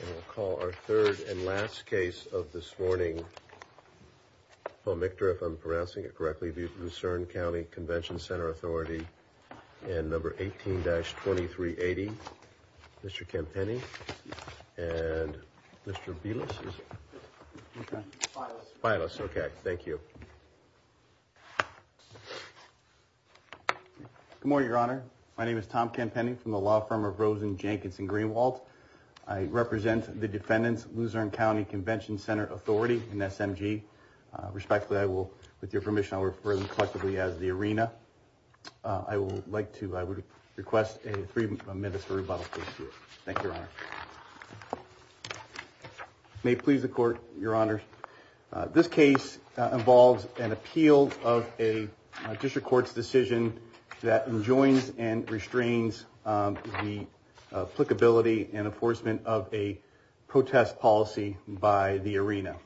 And we'll call our third and last case of this morning. Pomicter, if I'm pronouncing it correctly, v. Luzerne County Convention Center Authority and number 18-2380. Mr. Campini and Mr. Bielus. Bielus. Okay. Thank you. Good morning, Your Honor. My name is Tom Campini from the law firm of Rosen, Jenkins and Greenwald. I represent the defendants, Luzerne County Convention Center Authority and SMG. Respectfully, I will, with your permission, I'll refer them collectively as the arena. I would like to request a three-minute rebuttal. Thank you, Your Honor. May it please the court, Your Honor. This case involves an appeal of a district court's decision that enjoins and restrains the applicability and enforcement of a protest policy by the arena.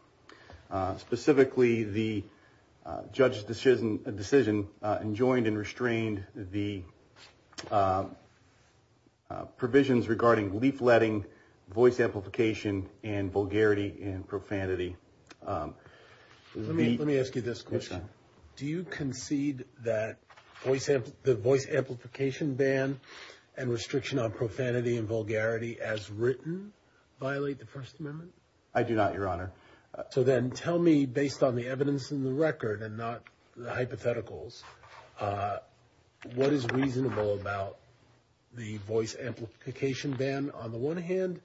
Specifically, the judge's decision enjoined and restrained the provisions regarding leafletting, voice amplification, and vulgarity and profanity. Let me ask you this question. Do you concede that the voice amplification ban and restriction on profanity and vulgarity as written violate the First Amendment? I do not, Your Honor. So then tell me, based on the evidence in the record and not the hypotheticals, what is reasonable about the voice amplification ban on the one hand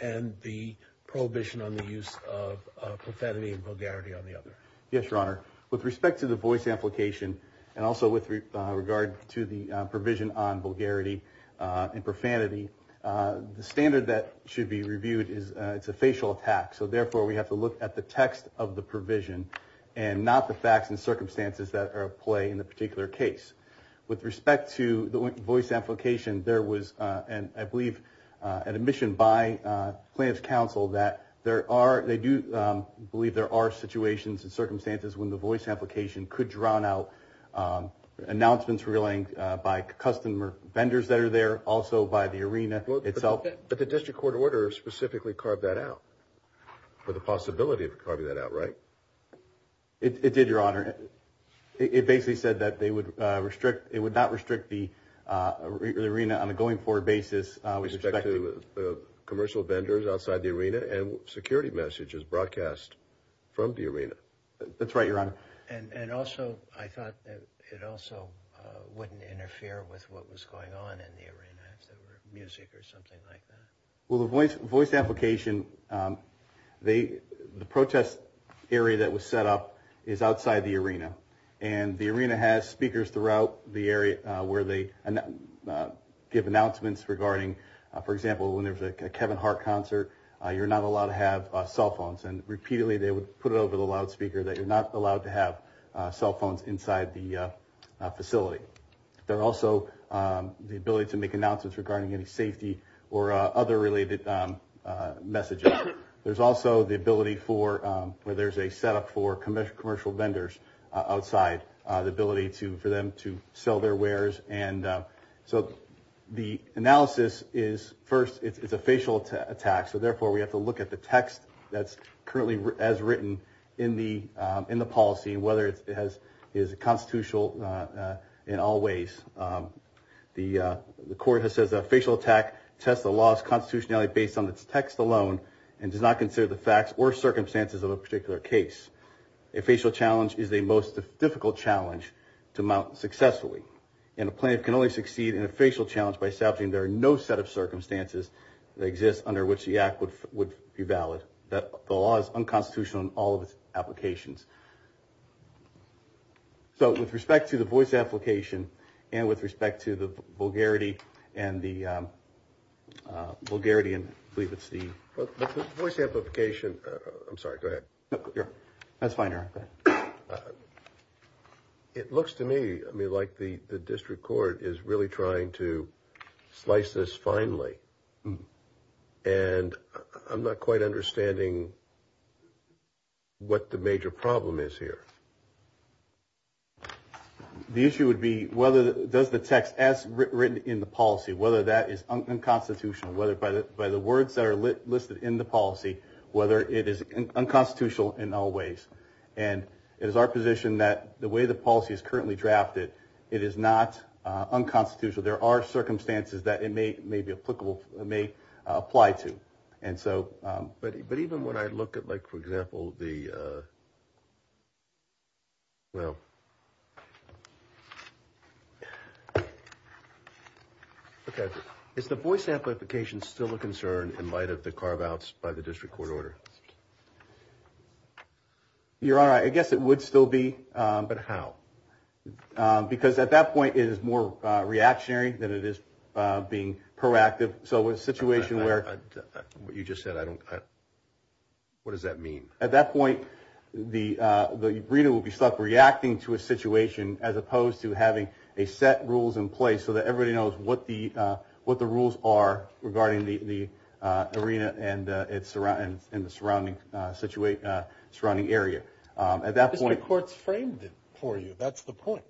and the prohibition on the use of profanity and vulgarity on the other? Yes, Your Honor. With respect to the voice amplification and also with regard to the provision on vulgarity and profanity, the standard that should be reviewed is it's a facial attack. So therefore, we have to look at the text of the provision and not the facts and circumstances that are at play in the particular case. With respect to the voice amplification, there was an, I believe, an admission by Plaintiff's counsel that there are, they do believe there are situations and circumstances when the voice amplification could round out announcements relaying by customer vendors that are there, also by the arena itself. But the district court order specifically carved that out for the possibility of carving that out, right? It did, Your Honor. It basically said that they would restrict, it would not restrict the arena on a going forward basis. With respect to commercial vendors outside the arena and security messages broadcast from the arena. That's right, Your Honor. And also, I thought that it also wouldn't interfere with what was going on in the arena if there were music or something like that. Well, the voice amplification, the protest area that was set up is outside the arena and the arena has speakers throughout the area where they give announcements regarding, for example, when there's a Kevin Hart concert, you're not allowed to have cell phones and repeatedly they would put it over the loudspeaker that you're not allowed to have cell phones inside the facility. There are also the ability to make announcements regarding any safety or other related messages. There's also the ability for where there's a setup for commercial vendors outside the ability to for them to sell their wares. And so the analysis is first, it's a facial attack. So therefore we have to look at the text that's currently as written in the policy and whether it is constitutional in all ways. The court has said that a facial attack tests the law's constitutionality based on its text alone and does not consider the facts or circumstances of a particular case. A facial challenge is the most difficult challenge to mount successfully and a plaintiff can only succeed in a facial challenge by establishing there are no set of circumstances that exist under which the act would be valid. The law is unconstitutional in all of its applications. So with respect to the voice application and with respect to the vulgarity and the vulgarity and I believe it's the voice amplification. I'm sorry. Go ahead. That's fine. It looks to me. I mean like the district court is really trying to slice this finely. And I'm not quite understanding what the major problem is here. The issue would be whether does the text as written in the policy whether that is unconstitutional whether by the words that are listed in the policy whether it is unconstitutional in all ways and it is our position that the way the policy is currently drafted. It is not unconstitutional. There are circumstances that it may be applicable may apply to and so but even when I look at like for example, the well. Okay, is the voice amplification still a concern in light of the carve-outs by the district court order? Your honor, I guess it would still be but how because at that point is more reactionary than it is being proactive. So it's a situation where you just said I don't what does that mean at that point the reader will be stuck reacting to a situation as opposed to having a set rules in place. So that everybody knows what the what the rules are regarding the arena and it's around in the surrounding situate surrounding area at that court's framed it for you. That's the point,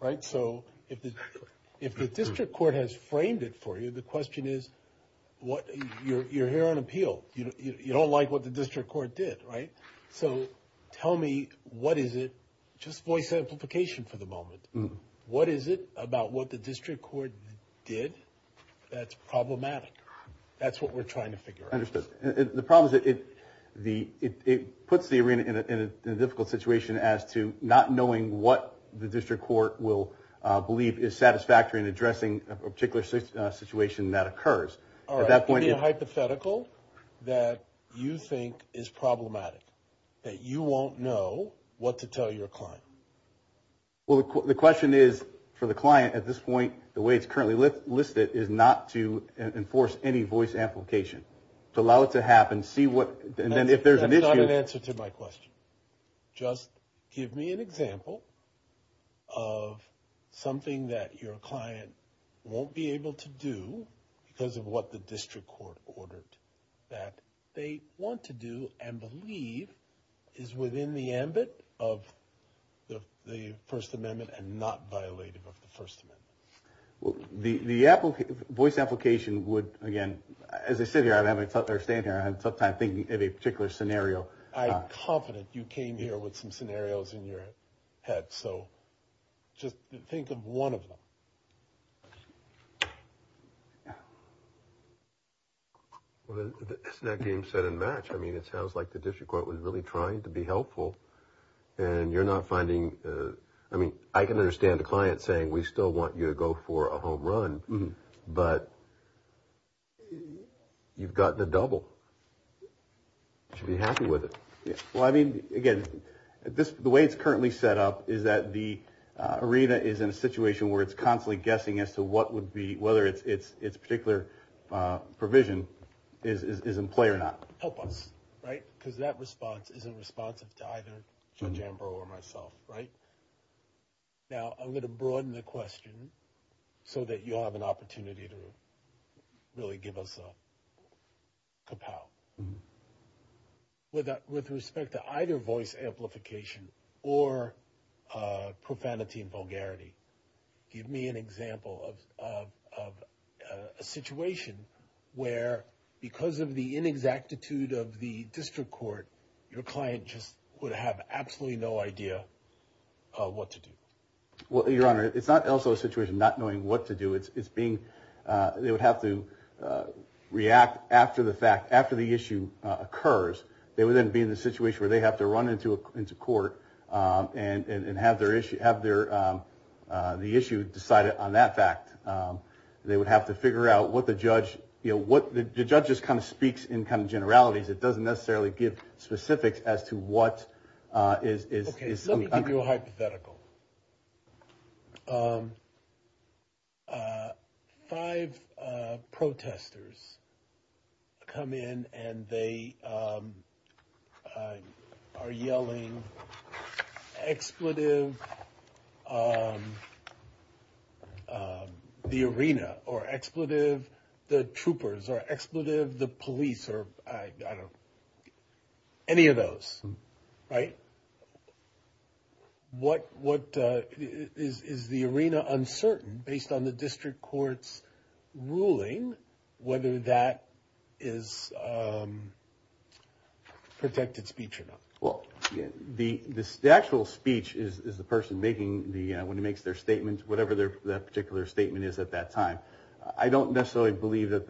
right? So if the if the district court has framed it for you, the question is what you're here on appeal, you know, you don't like what the district court did right? So tell me what is it just voice amplification for the moment? What is it about what the district court did? That's problematic. That's what we're trying to figure out the problems that it the it puts the arena in a difficult situation as to not knowing what the district court will believe is satisfactory and addressing a particular situation that occurs at that point in hypothetical that you think is problematic that you won't know what to tell your client. Well, the question is for the client at this point, the way it's currently listed is not to enforce any voice amplification to allow it to happen. See what and then if there's an answer to my question, just give me an example of something that your client won't be able to do because of what the district court ordered that they want to do and believe is within the ambit of the the First Amendment and not violated of the First Amendment. Well, the the apple voice application would again as I sit here. I've had my father stand here. I had some time thinking of a particular scenario. I'm confident you came here with some scenarios in your head. So just think of one of them. Well, isn't that game set in match? I mean, it sounds like the district court was really trying to be helpful and you're not finding I mean, I can understand the client saying we still want you to go for a home run, but you've got the double. You should be happy with it. Well, I mean again, this the way it's currently set up is that the arena is in a situation where it's constantly guessing as to what would be whether it's it's particular provision is in play or not. Help us, right? Because that response isn't responsive to either Judge Ambrose or myself, right? Now, I'm going to broaden the question so that you have an opportunity to really give us a kapow with respect to either voice amplification or profanity and vulgarity. Give me an example of a situation where because of the inexactitude of the district court, your client just would have absolutely no idea what to do. Well, your Honor, it's not also a situation not knowing what to do. It's being they would have to react after the fact after the issue occurs. They would then be in the situation where they have to run into a into court and have their issue, have their the issue decided on that fact. They would have to figure out what the judge, you know, what the judges kind of speaks in kind of generalities. It doesn't necessarily give specifics as to what is hypothetical. Five protesters come in and they are yelling expletive the arena or expletive the troopers or expletive the police or I don't any of those right? What what is the arena uncertain based on the district courts ruling whether that is protected speech or not? Well, the the actual speech is the person making the when he makes their statements, whatever their particular statement is at that time. I don't necessarily believe that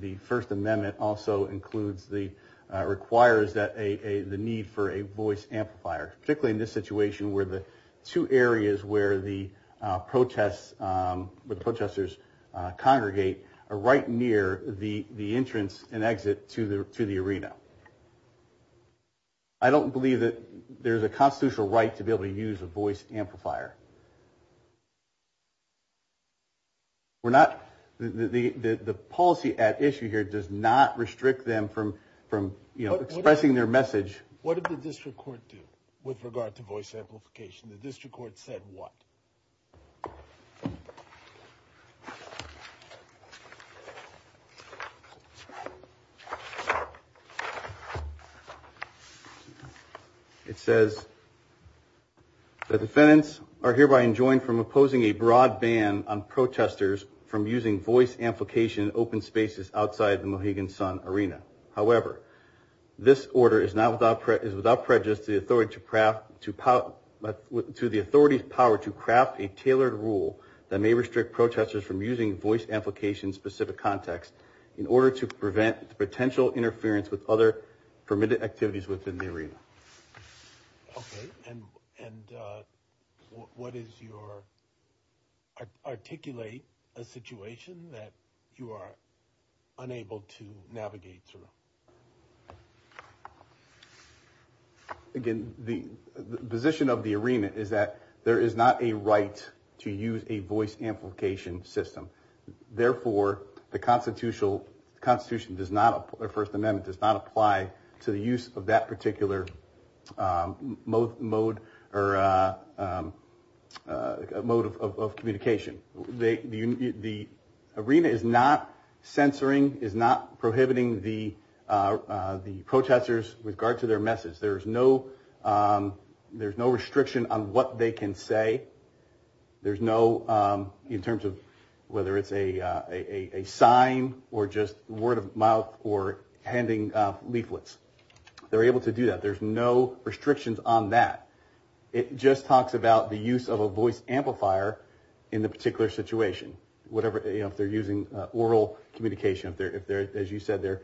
the First Amendment also includes the requires that a the need for a voice amplifier, particularly in this situation where the two areas where the protests with protesters congregate are right near the the entrance and exit to the to the arena. I don't believe that there's a constitutional right to be able to use a voice amplifier. We're not the the policy at issue here does not restrict them from from, you know, expressing their message. What did the district court do with regard to voice amplification? The district court said what? It says the defendants are hereby enjoined from opposing a broadband on protesters from using voice amplification open spaces outside the Higgins Sun Arena. However, this order is now without is without prejudice the authority to craft to power to the authorities power to craft a tailored rule that may restrict protesters from using voice amplification specific context in order to prevent potential interference with other permitted activities within the arena. Okay, and and what is your articulate a situation that you are unable to navigate through? Again, the position of the arena is that there is not a right to use a voice amplification system. Therefore, the constitutional Constitution does not apply First Amendment does not apply to the use of that particular mode mode or a mode of communication. They the arena is not censoring is not prohibiting the the protesters with regard to their message. There is no there's no restriction on what they can say. There's no in terms of whether it's a sign or just word of mouth or handing leaflets. They're able to do that. There's no restrictions on that. It just talks about the use of a voice amplifier in the particular situation, whatever if they're using oral communication of their if they're as you said, they're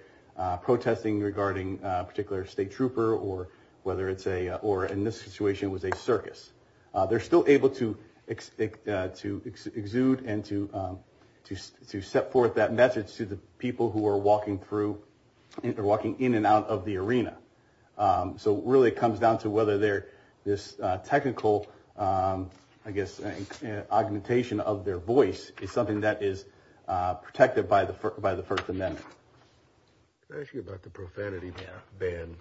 protesting regarding particular state trooper or whether it's a or in this situation was a circus. They're still able to expect to exude and to to set forth that message to the people who are walking through walking in and out of the arena. So really comes down to whether they're this technical, I guess augmentation of their voice is something that is protected by the by the First Amendment. Thank you about the profanity ban ban.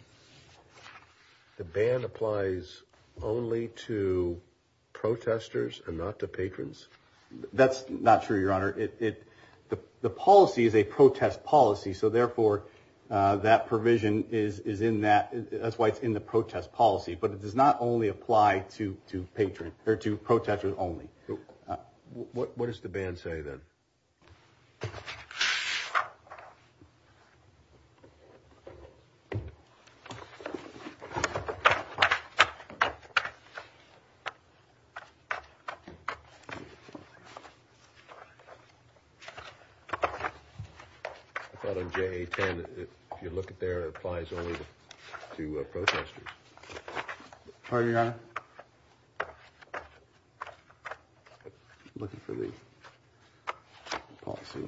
The ban applies only to protesters and not to patrons. That's not true. Your Honor. It the policy is a protest policy. So therefore that provision is is in that that's why it's in the protest policy, but it does not only apply to to patron or to protesters only what is the band say that? I thought on J 10, if you look at their applies only to protesters. Pardon your Honor. Looking for the policy.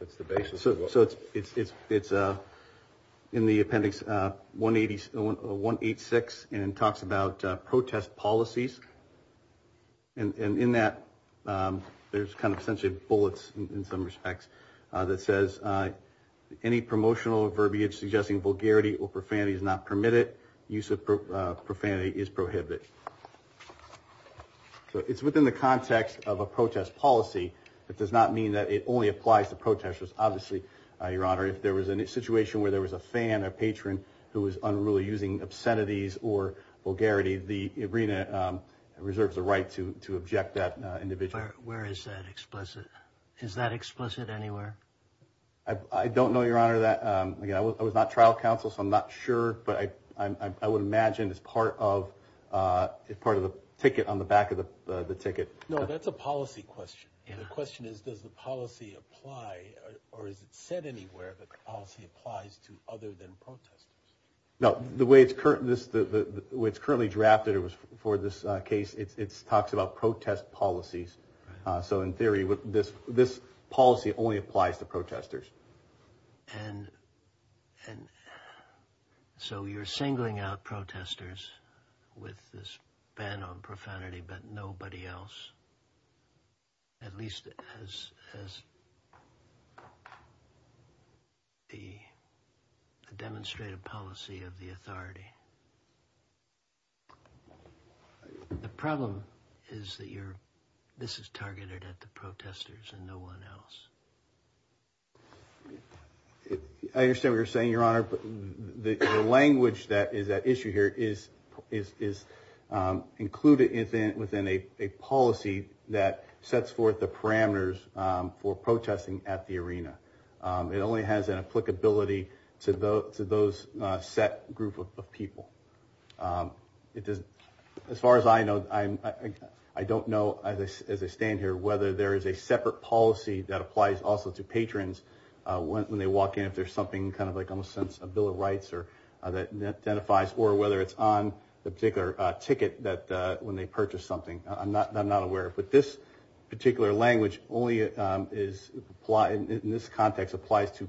It's the basis of so it's it's it's a in the appendix 180 186 and talks about protest policies. And in that there's kind of essentially bullets in some respects that says any promotional verbiage suggesting vulgarity or profanity is not permitted use of profanity is prohibited. So it's within the context of a protest policy that does not mean that it only applies to protesters. Obviously your Honor. If there was a situation where there was a fan or patron who was unruly using obscenities or vulgarity the arena reserves a right to object that individual where is that explicit is that explicit anywhere? I don't know your Honor that I was not trial counsel. So I'm not sure but I would imagine as part of part of the ticket on the back of the ticket. No, that's a policy question. The question is does the policy apply or is it said anywhere that policy applies to other than currently drafted it was for this case. It's talks about protest policies. So in theory with this this policy only applies to protesters. And and so you're singling out protesters with this ban on profanity, but nobody else. At least as as the demonstrated policy of the authority. The problem is that you're this is targeted at the protesters and no one else. I understand what you're saying your Honor, but the language that is that issue here is is is included in within a policy that sets forth the parameters for protesting at the arena. It only has an applicability to those set group of people. It is as far as I know, I'm I don't know as I stand here whether there is a separate policy that applies also to patrons when they walk in if there's something kind of like almost sense of Bill of Rights or that identifies or whether it's on the particular ticket that when they purchase something I'm not I'm not aware of but this particular language only is applied in this context applies to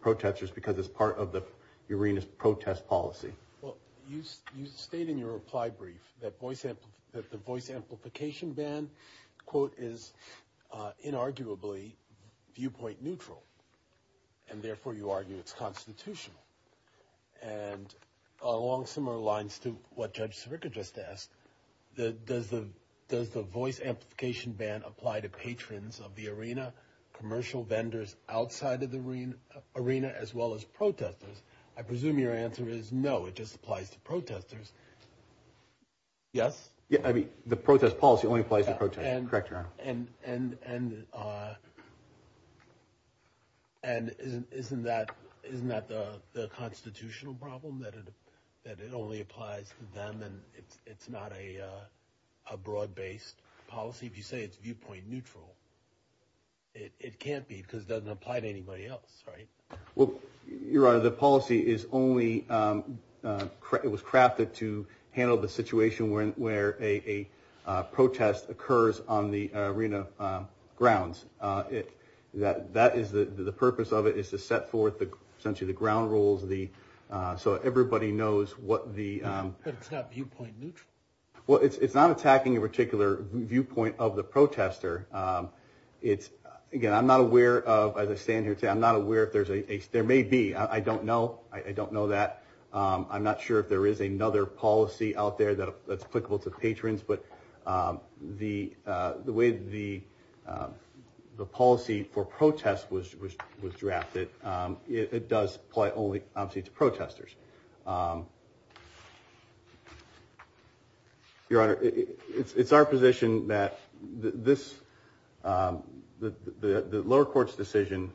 protesters because it's part of the arenas protest policy. You state in your reply brief that voice amplification that the voice amplification ban quote is inarguably viewpoint neutral. And therefore you argue it's constitutional and along similar lines to what Judge Sirica just asked the does the does the voice amplification ban apply to patrons of the arena commercial vendors outside of the arena arena as well as protesters. I presume your answer is no. It just applies to protesters. Yes. Yeah, I mean the protest policy only applies to protect and correct around and and and and isn't isn't that isn't that the constitutional problem that it that it only applies to them and it's not a broad-based policy. If you say it's viewpoint neutral. It can't be because doesn't apply to anybody else, right? Well, you're on the policy is only it was crafted to handle the situation where a protest occurs on the arena grounds it that that is the purpose of it is to set forth the essentially the ground rules the so everybody knows what the viewpoint neutral. Well, it's not attacking a particular viewpoint of the protester. It's again. I'm not aware of as I stand here to I'm not aware if there's a there may be I don't know. I don't know that I'm not sure if there is another policy out there that that's applicable to patrons, but the the way the the policy for protest was was was drafted. It does play only obviously to protesters. Your Honor. It's our position that this the the lower courts decision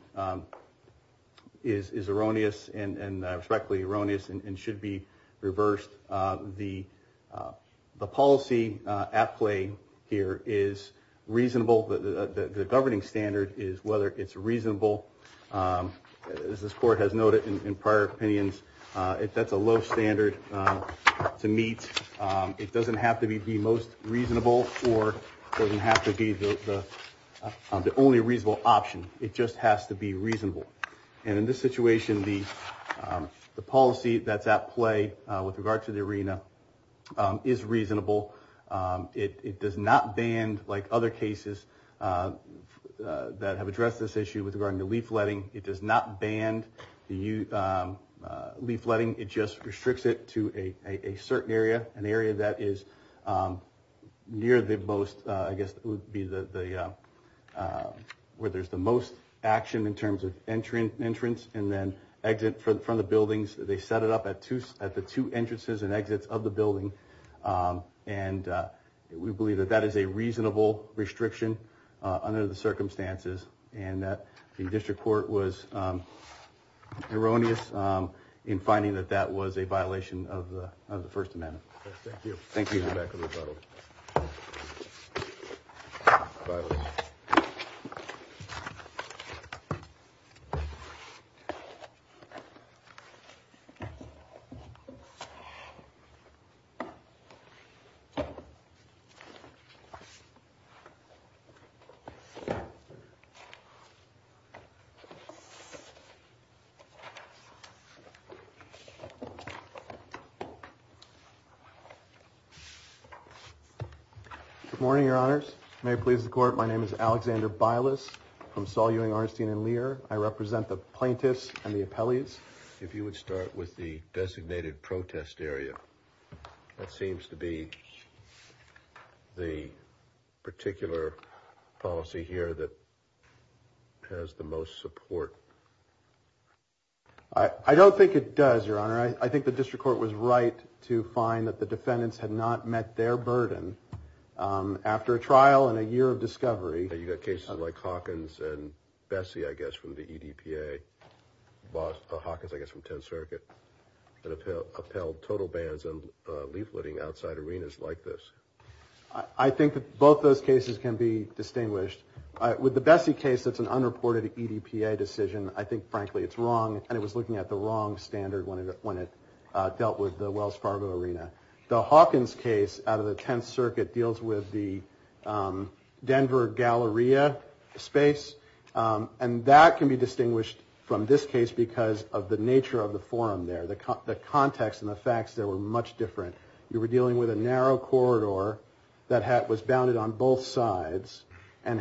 is erroneous and respectfully erroneous and should be reversed the the policy at play here is reasonable that the governing standard is whether it's reasonable as this court has noted in prior opinions. If that's a low standard to meet it doesn't have to be the most reasonable or doesn't have to be the only reasonable option. It just has to be reasonable and in this situation the the policy that's at play with regard to the arena is reasonable. It does not band like other cases that have addressed this issue with regarding the leafletting. It does not band the you leafletting it just restricts it to a certain area an area that is near the most I guess be the where there's the most action in terms of entering entrance and then exit from the buildings. They set it up at two at the two entrances and exits of the building and we believe that that is a reasonable restriction under the circumstances and that the district court was erroneous in finding that that was a violation of the First Amendment. Thank you. Thank you. Good morning, your honors. May it please the court. My name is Alexander Byliss from Saul Ewing Arnstein and Lear. I represent the plaintiffs and the appellees. If you would start with the designated protest area that seems to be the particular policy here that has the most support. I don't think it does your honor. I think the district court was right to find that the defendants had not met their burden after a trial and a year of discovery. You got cases like Hawkins and Bessie, I guess from the EDPA Hawkins, I guess from 10th Circuit and upheld total bans and leafletting outside arenas like this. I think that both those cases can be distinguished with the Bessie case. That's an unreported EDPA decision. I think frankly it's wrong and it was looking at the wrong standard when it when it dealt with the Wells Fargo arena. The Hawkins case out of the 10th Circuit deals with the Denver Galleria space and that can be distinguished from this case because of the nature of the forum there. The context and the facts there were much different. You were dealing with a narrow corridor that was bounded on both sides and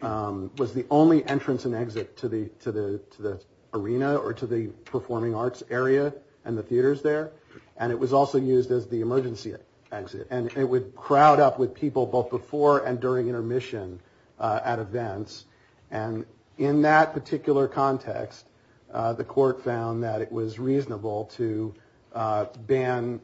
was the only entrance and exit to the arena or to the performing arts area and the theaters there. And it was also used as the emergency exit and it would crowd up with people both before and during intermission at events. And in that particular context the court found that it was reasonable to ban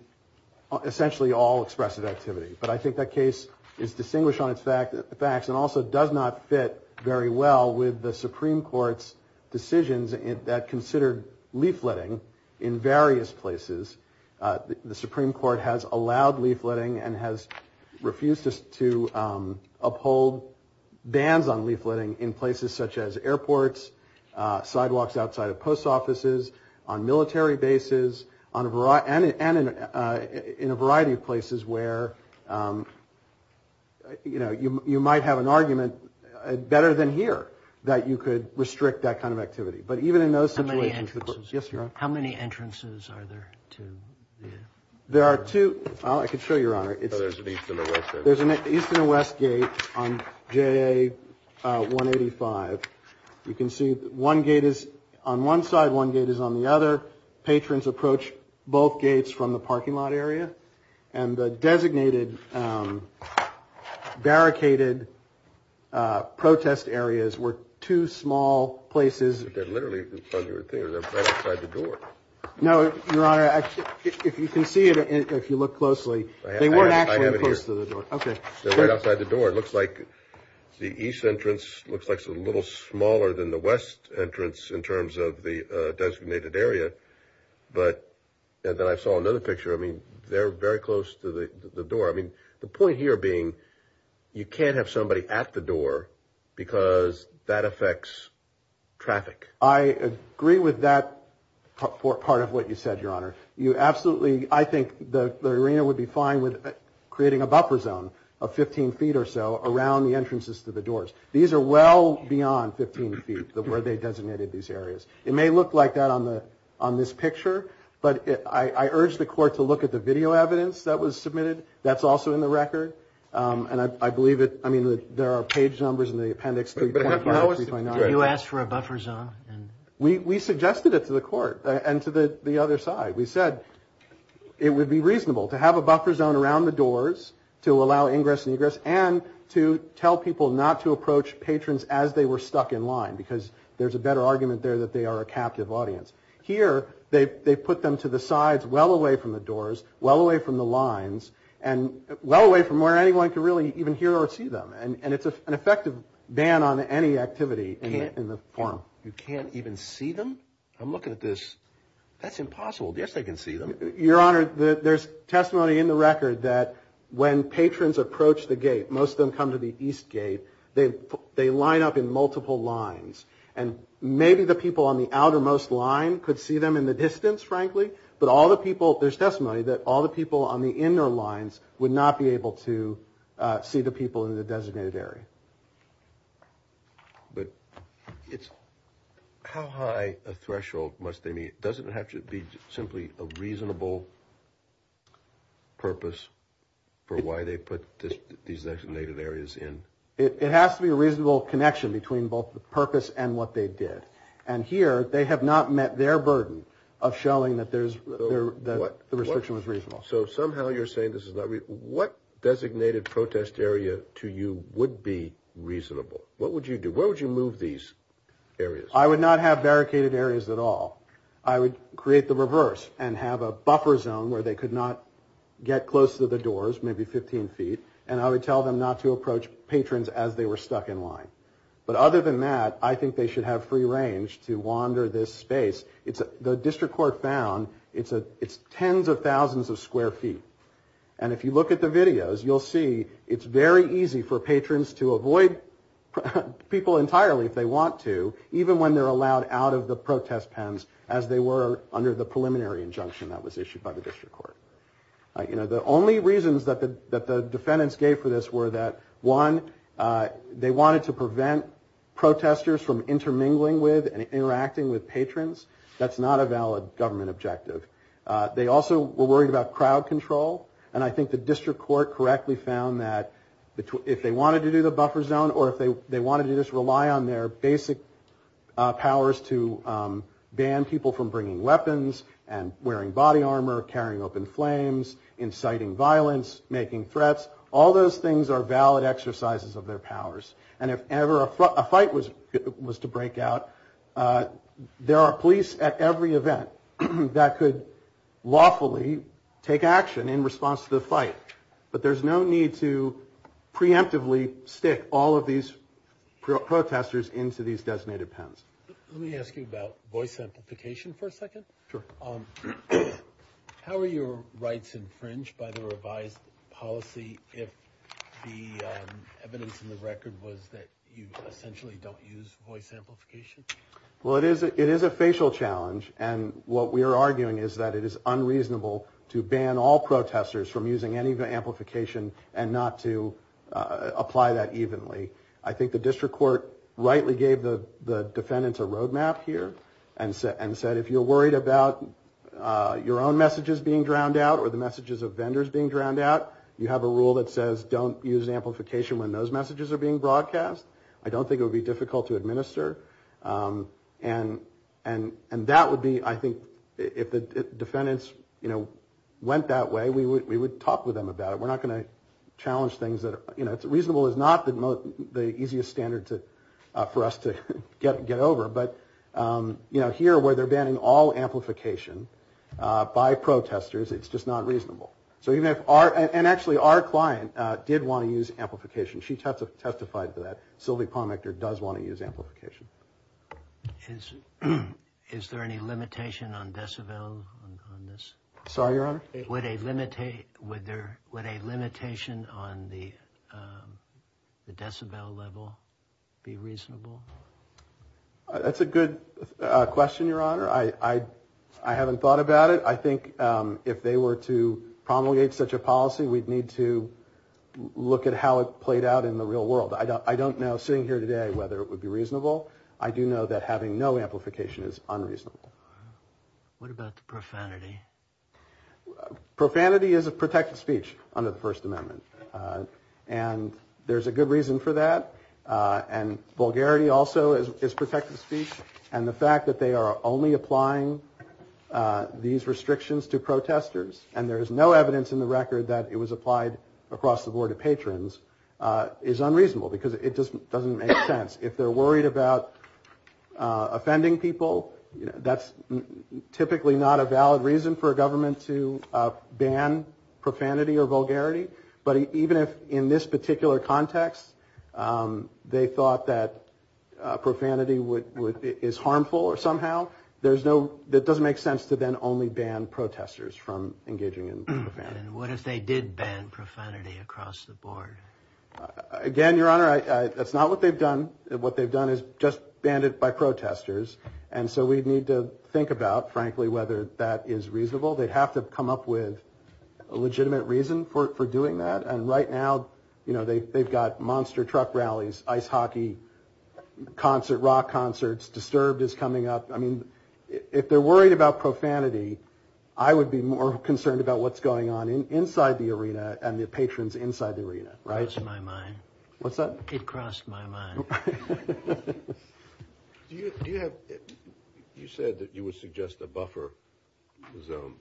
essentially all expressive activity. But I think that case is distinguished on its facts and also does not fit very well with the Supreme Court's decisions that considered leafletting in various places. The Supreme Court has allowed leafletting and has refused to uphold bans on leafletting in places such as airports, sidewalks outside of post offices, on military bases, and in a variety of places where you know you might have an argument better than here that you could restrict that kind of activity. But even in those situations. How many entrances are there? There are two. I could show you, Your Honor. There's an east and a west gate on JA 185. You can see one gate is on one side, one gate is on the other. Patrons approach both gates from the parking lot area and the designated barricaded protest areas were two small places. They're literally right outside the door. No, Your Honor. If you can see it, if you look closely, they weren't actually close to the door. Okay, they're right outside the door. It looks like the east entrance looks like a little smaller than the west entrance in terms of the designated area. But then I saw another picture. I mean, they're very close to the door. I mean, the point here being you can't have somebody at the door because that affects traffic. I agree with that part of what you said, Your Honor. You absolutely, I think the arena would be fine with creating a buffer zone of 15 feet or so around the entrances to the doors. These are well beyond 15 feet where they designated these areas. It may look like that on this picture, but I urge the court to look at the video evidence that was submitted. That's also in the record. And I believe it, I mean, there are page numbers in the appendix 3.5 and 3.9. Did you ask for a buffer zone? We suggested it to the court and to the other side. We said it would be reasonable to have a buffer zone around the doors to allow ingress and egress and to tell people not to approach patrons as they were stuck in line because there's a better argument there that they are a captive audience. Here, they put them to the sides well away from the doors, well away from the lines and well away from where anyone can really even hear or see them. And it's an effective ban on any activity in the forum. You can't even see them? I'm looking at this. That's impossible. Yes, they can see them. Your Honor, there's testimony in the record that when patrons approach the gate, most of them come to the east gate, they line up in multiple lines. And maybe the people on the outermost line could see them in the distance, frankly, but all the people, there's testimony that all the people on the inner lines would not be able to see the people in the designated area. But it's, how high a threshold must they meet? Doesn't it have to be simply a reasonable purpose for why they put these designated areas in? It has to be a reasonable connection between both the purpose and what they did. And here, they have not met their burden of showing that there's the restriction that was reasonable. So somehow you're saying this is not reasonable. What designated protest area to you would be reasonable? What would you do? Where would you move these areas? I would not have barricaded areas at all. I would create the reverse and have a buffer zone where they could not get close to the doors, maybe 15 feet. And I would tell them not to approach patrons as they were stuck in line. But other than that, I think they should have free range to wander this space. The district court found it's tens of thousands of square feet. And if you look at the videos, you'll see it's very easy for patrons to avoid people entirely if they want to, even when they're allowed out of the protest pens as they were under the preliminary injunction that was issued by the district court. You know, the only reasons that the defendants gave for this they wanted to prevent protesters from intermingling with and interacting with patrons. That's not a valid government objective. They also were worried about crowd control. And I think the district court correctly found that if they wanted to do the buffer zone or if they wanted to just rely on their basic powers to ban people from bringing weapons and wearing body armor, carrying open flames, inciting violence, making threats, all those things are valid exercises of their powers. And if ever a fight was to break out, there are police at every event that could lawfully take action in response to the fight. But there's no need to preemptively stick all of these protesters into these designated pens. Let me ask you about voice amplification for a second. How are your rights infringed by the revised policy if the evidence in the record was that you essentially don't use voice amplification? Well, it is a facial challenge. And what we are arguing is that it is unreasonable to ban all protesters from using any amplification and not to apply that evenly. I think the district court rightly gave the defendants a roadmap here and said if you're worried about your own messages being drowned out or the messages of vendors being drowned out, you have a rule that says don't use amplification when those messages are being broadcast. I don't think it would be difficult to administer. And that would be, I think, if the defendants, you know, went that way, we would talk with them about it. We're not going to challenge things that are, you know, reasonable is not the easiest standard for us to get over. But, you know, here where they're banning all amplification by protesters, it's just not reasonable. So even if our, and actually our client did want to use amplification. She testified to that. Sylvie Palmichter does want to use amplification. Is there any limitation on decibel on this? Sorry, Your Honor? Would a limitation on the decibel level be reasonable? That's a good question, Your Honor. I haven't thought about it. I think if they were to promulgate such a policy, we'd need to look at how it played out in the real world. I don't know, sitting here today, whether it would be reasonable. I do know that having no amplification is unreasonable. What about the profanity? Profanity is a protected speech under the First Amendment. And there's a good reason for that. And vulgarity also is protected speech. And the fact that they are only applying these restrictions to protesters, and there is no evidence in the record that it was applied across the board of patrons, is unreasonable because it just doesn't make sense. If they're worried about offending people, that's typically not a valid reason for a government to ban profanity or vulgarity. But even if, in this particular context, they thought that profanity is harmful somehow, that doesn't make sense to then only ban protesters from engaging in profanity. And what if they did ban profanity across the board? Again, Your Honor, that's not what they've done. What they've done is just banned it by protesters. And so we'd need to think about, frankly, whether that is reasonable. They'd have to come up with a legitimate reason for doing that. And right now, you know, they've got monster truck rallies, ice hockey, rock concerts, Disturbed is coming up. I mean, if they're worried about profanity, I would be more concerned about what's going on inside the arena and the patrons inside the arena, right? It crossed my mind. What's that? It crossed my mind. Do you have, you said that you would suggest a buffer zone.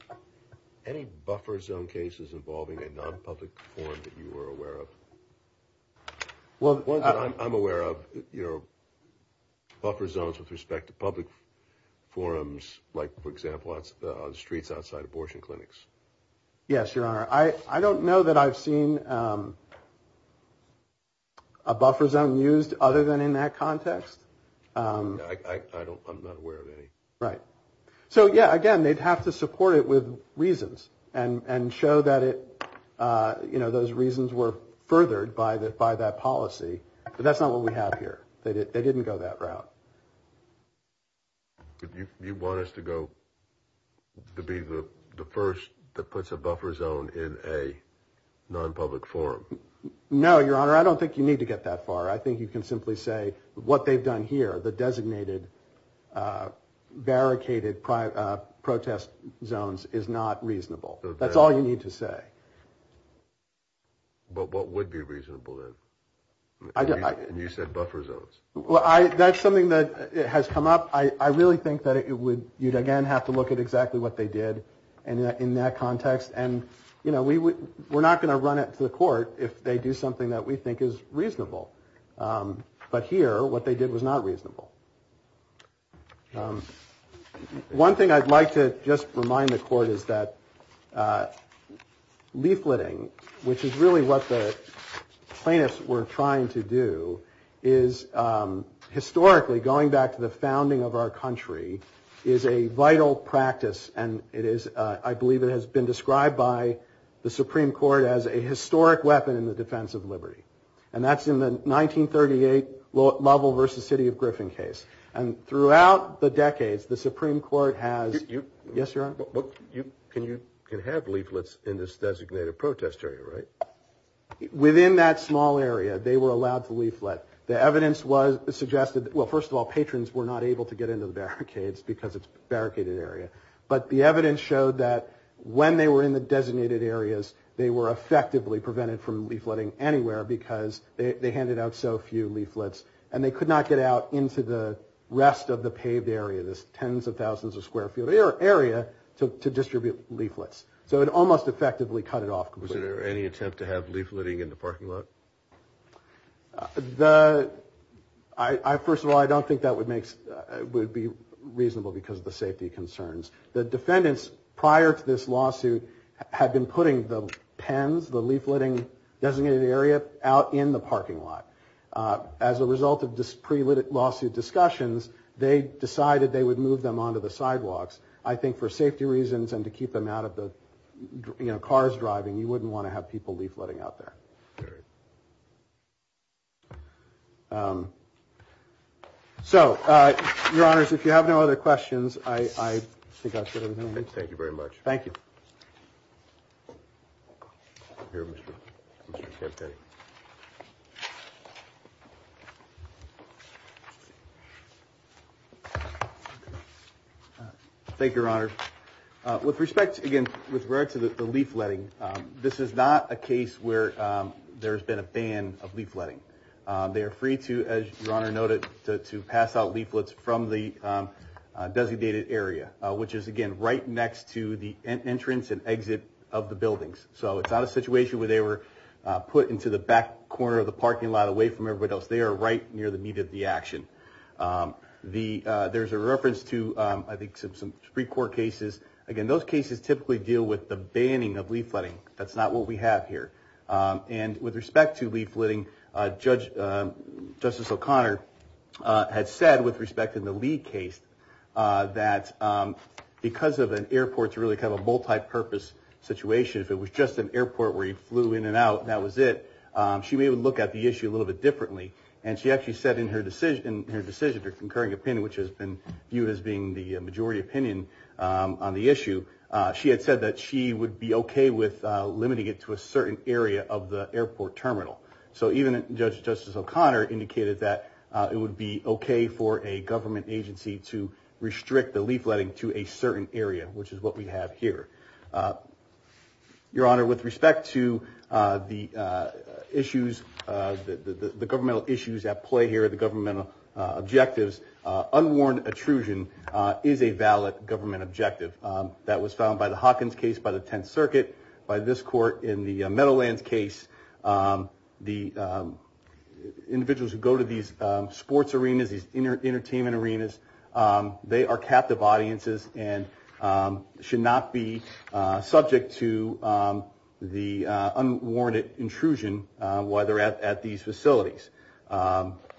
Any buffer zone cases involving a non-public forum that you were aware of? Well, I'm aware of your buffer zones with respect to public forums, like, for example, on the streets outside abortion clinics. Yes, Your Honor. I don't know that I've seen a buffer zone used other than in that context. I don't, I'm not aware of any. Right. So yeah, again, they'd have to support it with reasons and show that it, you know, those reasons were furthered by that policy, but that's not what we have here. They didn't go that route. You want us to go, to be the first that puts a buffer zone in a non-public forum? No, Your Honor. I don't think you need to get that far. I think you can simply say what they've done here, the designated barricaded protest zones is not reasonable. That's all you need to say. But what would be reasonable then? And you said buffer zones. Well, I, that's something that has come up. I really think that it would, you'd again have to look at exactly what they did in that context. And, you know, we would, we're not going to run it to the court if they do something that we think is reasonable. But here, what they did was not reasonable. One thing I'd like to just remind the court is that leafleting, which is really what the plaintiffs were trying to do, is historically, going back to the founding of our country, is a vital practice and it is, I believe it has been described in the defense of liberty. And that's in the 1938 Lovell versus City of Griffin case. And throughout the decades, the Supreme Court has, yes, Your Honor? But you, can you have leaflets in this designated protest area, right? Within that small area, they were allowed to leaflet. The evidence was, suggested, well, first of all, patrons were not able to get into the barricades because it's a barricaded area. But the evidence showed that when they were in the designated areas, they were effectively prevented from leafleting anywhere because they handed out so few leaflets. And they could not get out into the rest of the paved area, this tens of thousands of square feet area, to distribute leaflets. So it almost effectively cut it off completely. Was there any attempt to have leafleting in the parking lot? The, I first of all, I don't think that would make, would be reasonable because of the safety concerns. The defendants prior to this lawsuit had been putting the pens, the leafleting designated area, out in the parking lot. As a result of this pre-lawsuit discussions, they decided they would move them onto the sidewalks. I think for safety reasons and to keep them out of the, you know, cars driving, you wouldn't want to have people leafleting out there. So, Your Honors, if you have no other questions, I think I should have moved. Thank you very much. Thank you. Here, Mr. Cabotetti. Thank you, Your Honor. With respect, again, with regard to the leafleting, this is not a case where there's been a ban of leafleting. They are free to, as Your Honor noted, to pass out leaflets from the designated area, which is, again, right next to the entrance and exit of the buildings. So, it's not a situation where they were put into the back corner of the parking lot, away from everybody else. They are right near the meat of the action. There's a reference to, I think, some Supreme Court cases. Again, those cases typically deal with the banning of leafleting. That's not what we have here. And with respect to leafleting, Justice O'Connor had said, with respect to the Lee case, that because of an airport's really kind of bad purpose situation, if it was just an airport where he flew in and out and that was it, she may have looked at the issue a little bit differently. And she actually said in her decision, her concurring opinion, which has been viewed as being the majority opinion on the issue, she had said that she would be okay with limiting it to a certain area of the airport terminal. So, even Justice O'Connor indicated that it would be okay for a government agency to restrict the leafleting to a certain area, which is what we have here. Your Honor, with respect to the issues, the governmental issues at play here, the governmental objectives, unwarned intrusion is a valid government objective. That was found by the Hawkins case, by the Tenth Circuit, by this court in the Meadowlands case. The individuals who go to these sports arenas, these entertainment arenas, they are captive audiences and should not be subject to the unwarranted intrusion while they're at these facilities.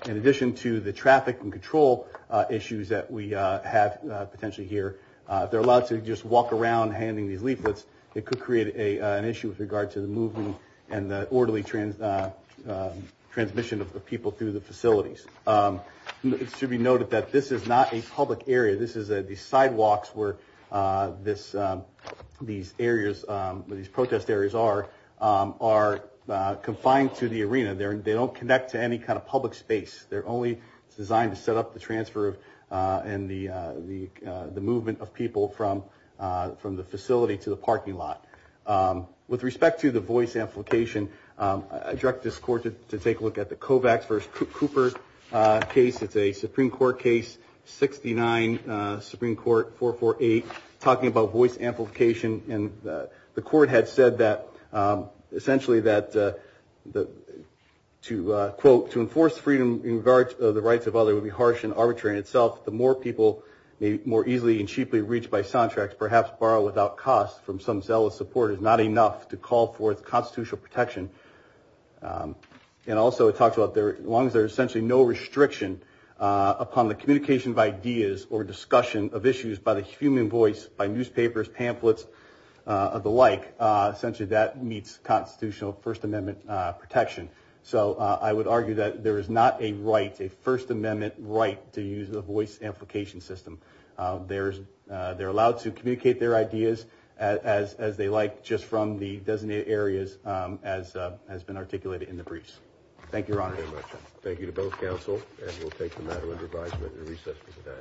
In addition to the traffic and control issues that we have potentially here, if they're allowed to just walk around handing these leaflets, it could create an issue with regard to the movement and the orderly transmission of the people through the facilities. It should be noted that this is not a public area. This is the sidewalks where these areas, where these protest areas are, are confined to the arena. They don't connect to any kind of public space. They're only designed to set up the transfer and the movement of people from the facility to the parking lot. With respect to the voice amplification, I direct this court to take a look at the Kovacs v. Cooper case. It's a Supreme Court case, 69, Supreme Court, 448, talking about voice amplification. And the court had said that, essentially, that to, quote, to enforce freedom in regard to the rights of others would be harsh and arbitrary in itself. The more people may more easily and cheaply reach by soundtracks, perhaps borrow without cost from some zealous supporter is not enough to call forth constitutional protection. And also it talks about there, as long as there's essentially no restriction upon the communication of ideas or discussion of issues by the human voice, by newspapers, pamphlets, the like, essentially that meets constitutional First Amendment protection. So I would argue that there is not a right, a First Amendment right to use the voice amplification system. They're allowed to communicate their ideas as they like, just from the designated areas as has been articulated in the briefs. Thank you, Your Honor. Thank you to both counsel. And we'll take the matter into advisement at the recess for today.